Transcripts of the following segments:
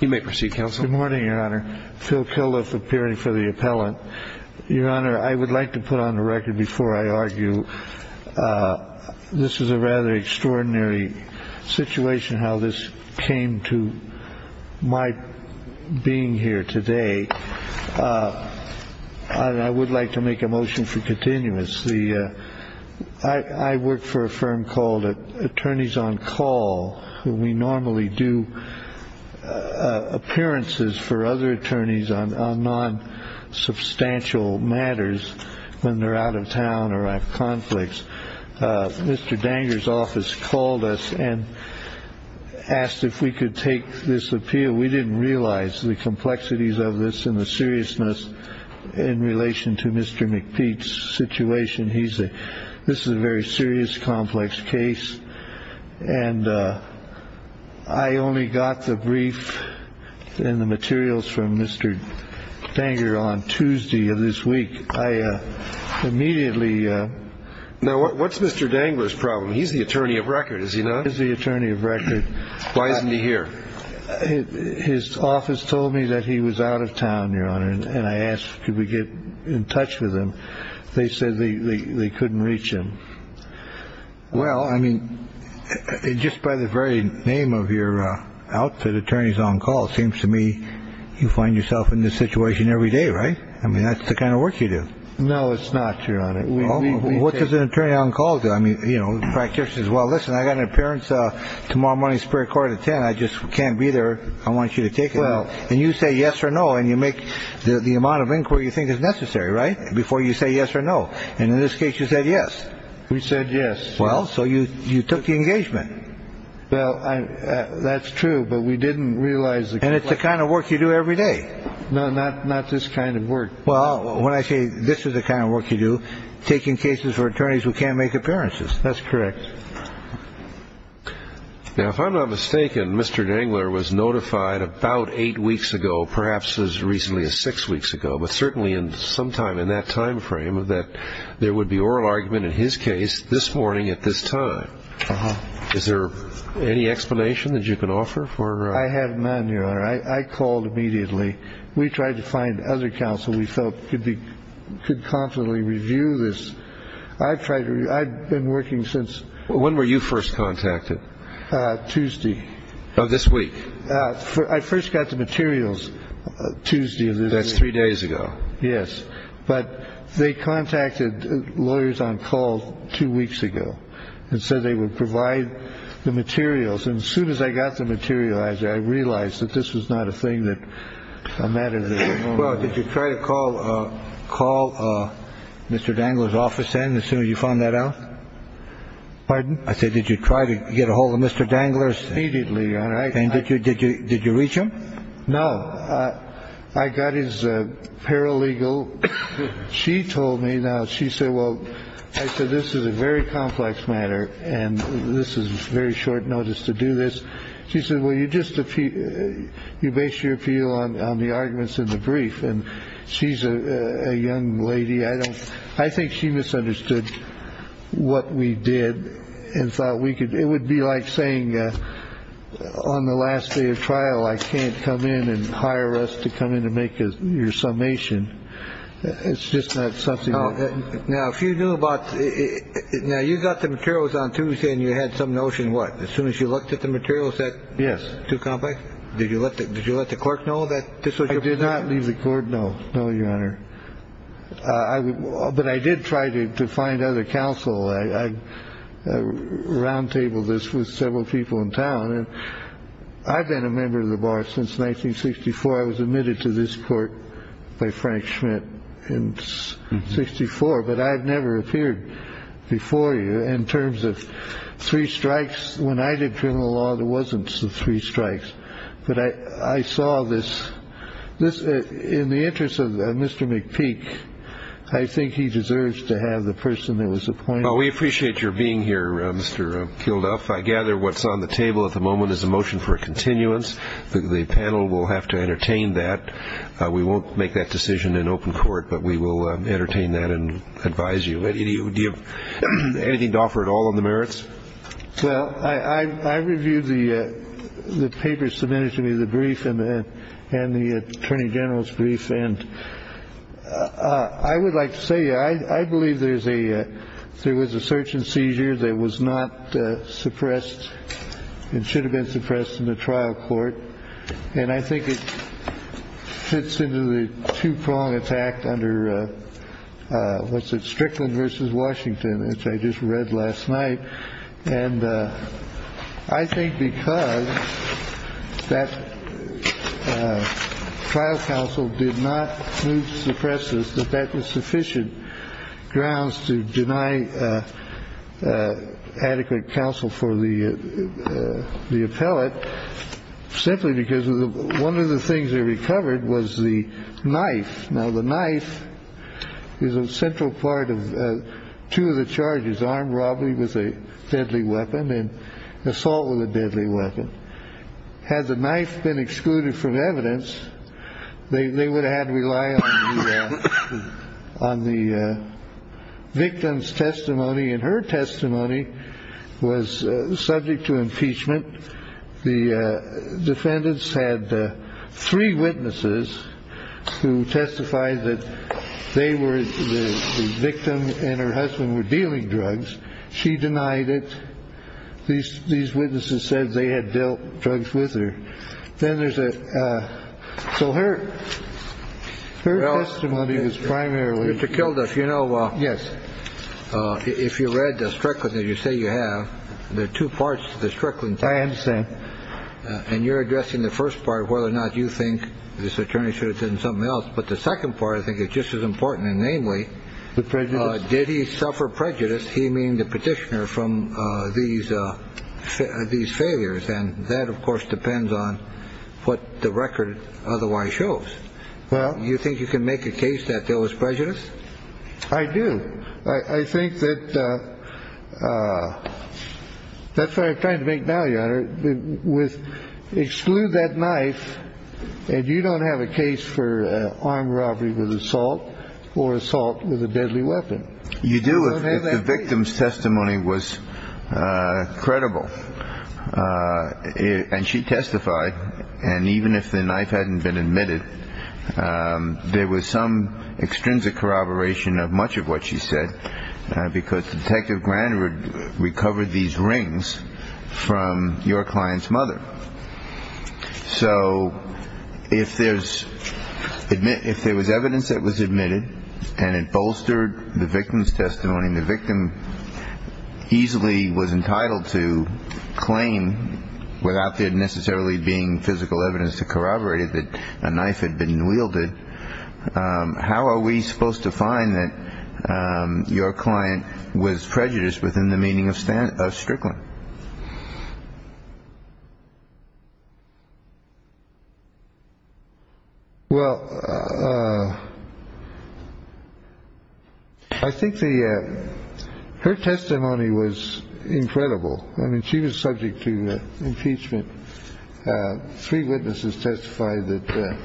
Good morning, Your Honor. Phil Kilduff appearing for the appellant. Your Honor, I would like to put on the record before I argue, this is a rather extraordinary situation, how this came to my being here today. I would like to make a motion for continuance. I work for a firm called Attorneys on Call, and we normally do appearances for other attorneys on non-substantial matters when they are out of town or have conflicts. Mr. Danger's office called us and asked if we could take this appeal. We didn't realize the complexities of this and the seriousness in relation to Mr. McPeak's situation. This is a very serious, complex case. And I only got the brief and the materials from Mr. Danger on Tuesday of this week. I immediately… Now, what's Mr. Danger's problem? He's the attorney of record, is he not? He's the attorney of record. Why isn't he here? His office told me that he was out of town, Your Honor, and I asked could we get in touch with him. They said they couldn't reach him. Well, I mean, just by the very name of your outfit, attorneys on call, it seems to me you find yourself in this situation every day, right? I mean, that's the kind of work you do. No, it's not, Your Honor. What does an attorney on call do? I mean, you know, the practitioner says, well, listen, I got an appearance tomorrow morning in the Superior Court at 10. I just can't be there. I want you to take it. And you say yes or no, and you make the amount of inquiry you necessary, right, before you say yes or no. And in this case, you said yes. We said yes. Well, so you took the engagement. Well, that's true, but we didn't realize… And it's the kind of work you do every day. No, not this kind of work. Well, when I say this is the kind of work you do, taking cases for attorneys who can't make appearances. That's correct. Now, if I'm not mistaken, Mr. Dangler was notified about eight weeks ago, perhaps as sometime in that time frame, that there would be oral argument in his case this morning at this time. Is there any explanation that you can offer for… I have none, Your Honor. I called immediately. We tried to find other counsel we felt could confidently review this. I've been working since… When were you first contacted? Tuesday. This week. I first got the materials Tuesday of this week. That's three days ago. Yes. But they contacted lawyers on call two weeks ago and said they would provide the materials. And as soon as I got the materials, I realized that this was not a thing that… Well, did you try to call Mr. Dangler's office in as soon as you found that out? Pardon? I said, did you try to get a hold of Mr. Dangler's… Immediately, Your Honor. And did you reach him? No. I got his paralegal. She told me now. She said, well, I said, this is a very complex matter and this is very short notice to do this. She said, well, you just you base your appeal on the arguments in the brief. And she's a young lady. I don't I think she misunderstood what we did and thought we could. It would be like saying on the last day of trial, I can't come in and hire us to come in to make your summation. It's just not something. Now, if you knew about it now, you've got the materials on Tuesday and you had some notion. What? As soon as you looked at the materials that. Yes. Too complex. Did you let it. Did you let the clerk know that this was. I did not leave the court. No, no, Your Honor. But I did try to find other counsel. I roundtable this with several people in town. I've been a member of the bar since 1964. I was admitted to this court by Frank Schmidt in 64. But I've never appeared before you in terms of three strikes. When I did criminal law, there wasn't three strikes. But I saw this this in the interest of Mr. McPeak. I think he deserves to have the person that was appointed. We appreciate your being here, Mr. Kilduff. I gather what's on the table at the moment is a motion for continuance. The panel will have to entertain that. We won't make that decision in open court, but we will entertain that and advise you. Anything to offer at all on the merits. Well, I reviewed the papers submitted to me, the brief and the attorney general's brief. And I would like to say, I believe there's a there was a search and seizure that was not suppressed. It should have been suppressed in the trial court. And I think it fits into the two prong attack under. What's it? Strickland versus Washington, which I just read last night. And I think because that trial counsel did not suppress this, that that was sufficient grounds to deny adequate counsel for the the appellate. Simply because one of the things they recovered was the knife. Now, the knife is a central part of two of the charges armed robbery with a deadly weapon and assault with a deadly weapon. Had the knife been excluded from evidence, they would have had to rely on the victim's testimony. And her testimony was subject to impeachment. The defendants had three witnesses who testified that they were the victim and her husband were dealing drugs. She denied it. These these witnesses said they had dealt drugs with her. Then there's a. So her testimony was primarily to kill this. You know, yes. If you read the Strickland that you say you have, there are two parts to the Strickland. I understand. And you're addressing the first part of whether or not you think this attorney should have said something else. But the second part, I think it's just as important. And namely, the president. Did he suffer prejudice? He mean the petitioner from these, these failures. And that, of course, depends on what the record otherwise shows. Well, you think you can make a case that there was prejudice? I do. I think that that's what I'm trying to make value with exclude that knife. And you don't have a case for armed robbery with assault or assault with a deadly weapon. You do. The victim's testimony was credible. And she testified. And even if the knife hadn't been admitted, there was some extrinsic corroboration of much of what she said, because Detective Grandwood recovered these rings from your client's mother. So if there's admit if there was evidence that was admitted and it bolstered the victim's testimony, the victim easily was entitled to claim without there necessarily being physical evidence to corroborated that a knife had been wielded. How are we supposed to find that your client was prejudiced within the meaning of Stan Strickland? Well, I think the her testimony was incredible. I mean, she was subject to impeachment. Three witnesses testified that.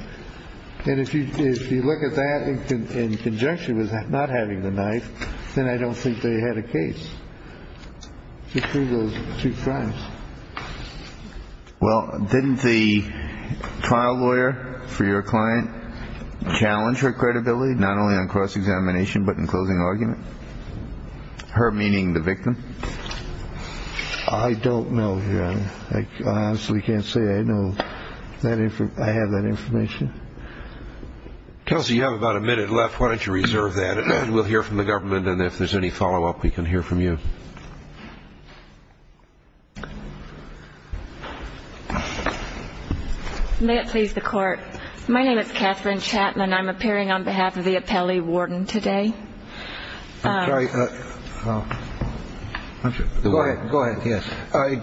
And if you if you look at that in conjunction with not having the knife, then I don't think they had a case to prove those two crimes. Well, didn't the trial lawyer for your client challenge her credibility, not only on cross-examination, but in closing argument? Her meaning the victim. I don't know. I honestly can't say I know that if I have that information. Kelsey, you have about a minute left. Why don't you reserve that? We'll hear from the government. And if there's any follow up, we can hear from you. May it please the court. My name is Catherine Chapman. I'm appearing on behalf of the appellee warden today. Go ahead. Go ahead. Yes.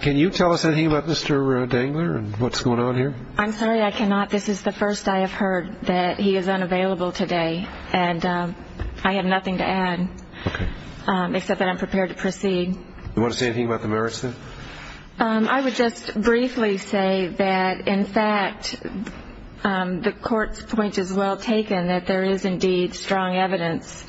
Can you tell us anything about Mr. Dangler and what's going on here? I'm sorry, I cannot. This is the first I have heard that he is unavailable today. And I have nothing to add except that I'm prepared to proceed. You want to say anything about the merits? I would just briefly say that, in fact, the court's point is well taken, that there is indeed strong evidence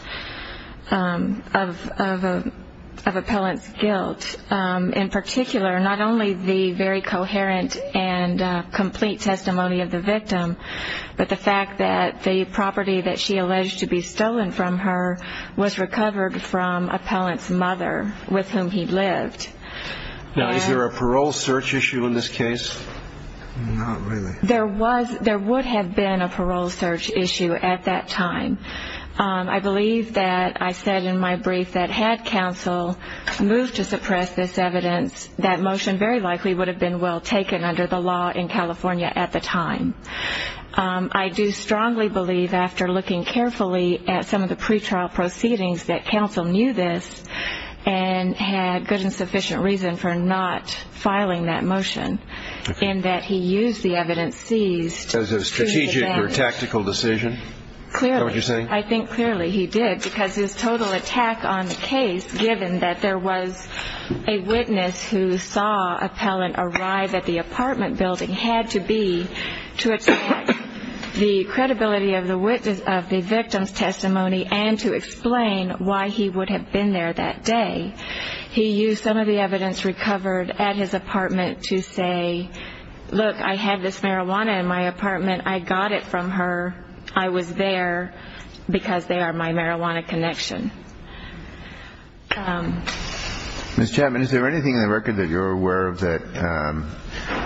of appellant's guilt. In particular, not only the very coherent and complete testimony of the victim, but the fact that the property that she alleged to be stolen from her was recovered from appellant's mother, with whom he lived. Now, is there a parole search issue in this case? Not really. There would have been a parole search issue at that time. I believe that I said in my brief that had counsel moved to suppress this evidence, that motion very likely would have been well taken under the law in California at the time. I do strongly believe, after looking carefully at some of the pretrial proceedings, that counsel knew this and had good and sufficient reason for not filing that motion, in that he used the evidence seized to advance. As a strategic or tactical decision? Clearly. Is that what you're saying? I think clearly he did, because his total attack on the case, given that there was a witness who saw appellant arrive at the apartment building, had to be to attack the credibility of the victim's testimony and to explain why he would have been there that day. He used some of the evidence recovered at his apartment to say, Look, I have this marijuana in my apartment. I got it from her. I was there because they are my marijuana connection. Ms. Chapman, is there anything in the record that you're aware of that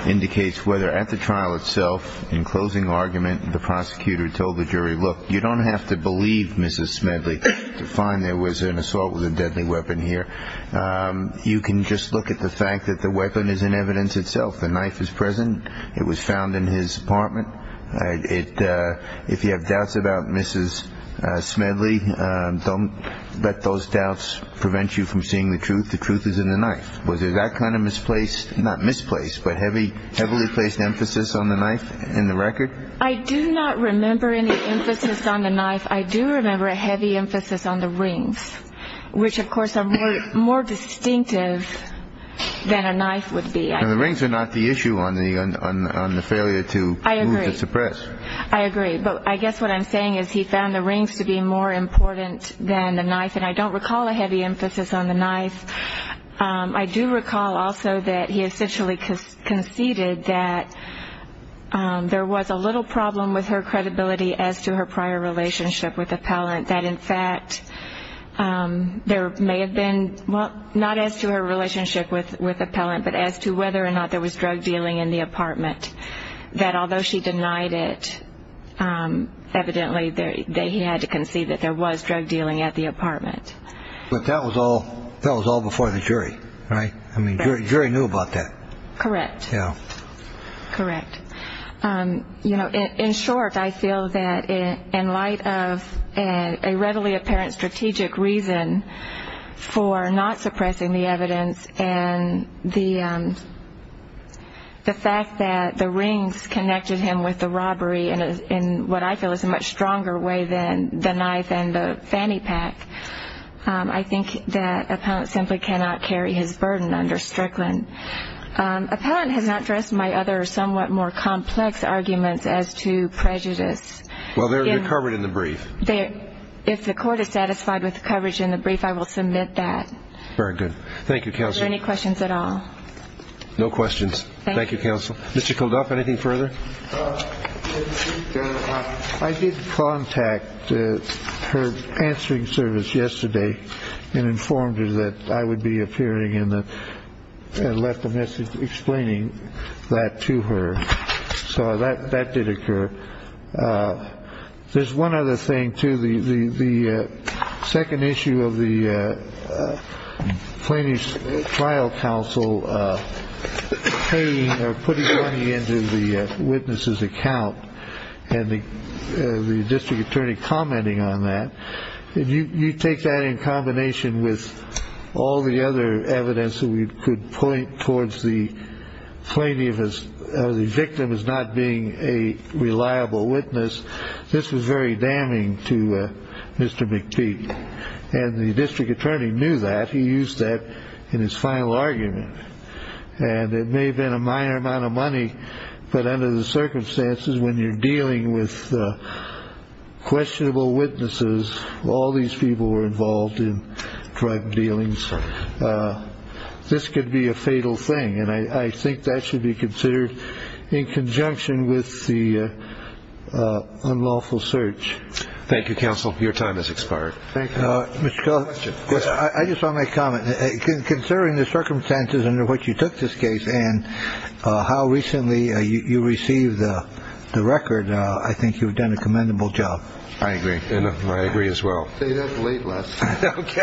indicates whether at the trial itself, in closing argument the prosecutor told the jury, Look, you don't have to believe Mrs. Smedley to find there was an assault with a deadly weapon here. You can just look at the fact that the weapon is in evidence itself. The knife is present. It was found in his apartment. If you have doubts about Mrs. Smedley, don't let those doubts prevent you from seeing the truth. The truth is in the knife. Was there that kind of misplaced, not misplaced, but heavily placed emphasis on the knife in the record? I do not remember any emphasis on the knife. I do remember a heavy emphasis on the rings, which, of course, are more distinctive than a knife would be. The rings are not the issue on the failure to move the suppress. I agree. But I guess what I'm saying is he found the rings to be more important than the knife. And I don't recall a heavy emphasis on the knife. I do recall also that he essentially conceded that there was a little problem with her credibility as to her prior relationship with Appellant, that in fact there may have been, well, not as to her relationship with Appellant, but as to whether or not there was drug dealing in the apartment, that although she denied it, evidently he had to concede that there was drug dealing at the apartment. But that was all before the jury, right? The jury knew about that. Correct. Yeah. Correct. You know, in short, I feel that in light of a readily apparent strategic reason for not suppressing the evidence and the fact that the rings connected him with the robbery in what I feel is a much stronger way than the knife and the fanny pack, I think that Appellant simply cannot carry his burden under Strickland. Appellant has not addressed my other somewhat more complex arguments as to prejudice. Well, they're covered in the brief. If the court is satisfied with the coverage in the brief, I will submit that. Very good. Thank you, Counsel. Are there any questions at all? No questions. Thank you. Thank you, Counsel. Mr. Koldoff, anything further? I did contact her answering service yesterday and informed her that I would be appearing and left a message explaining that to her. So that that did occur. There's one other thing, too. The second issue of the plaintiff's trial counsel putting money into the witness's account and the district attorney commenting on that. You take that in combination with all the other evidence that we could point towards the plaintiff as the victim is not being a reliable witness. This was very damning to Mr. McPete. And the district attorney knew that. He used that in his final argument. And it may have been a minor amount of money. But under the circumstances, when you're dealing with questionable witnesses, all these people were involved in drug dealings. This could be a fatal thing. And I think that should be considered in conjunction with the unlawful search. Thank you, Counsel. Your time has expired. Thank you. I just want to make a comment concerning the circumstances under which you took this case and how recently you received the record. I think you've done a commendable job. I agree. I agree as well. OK.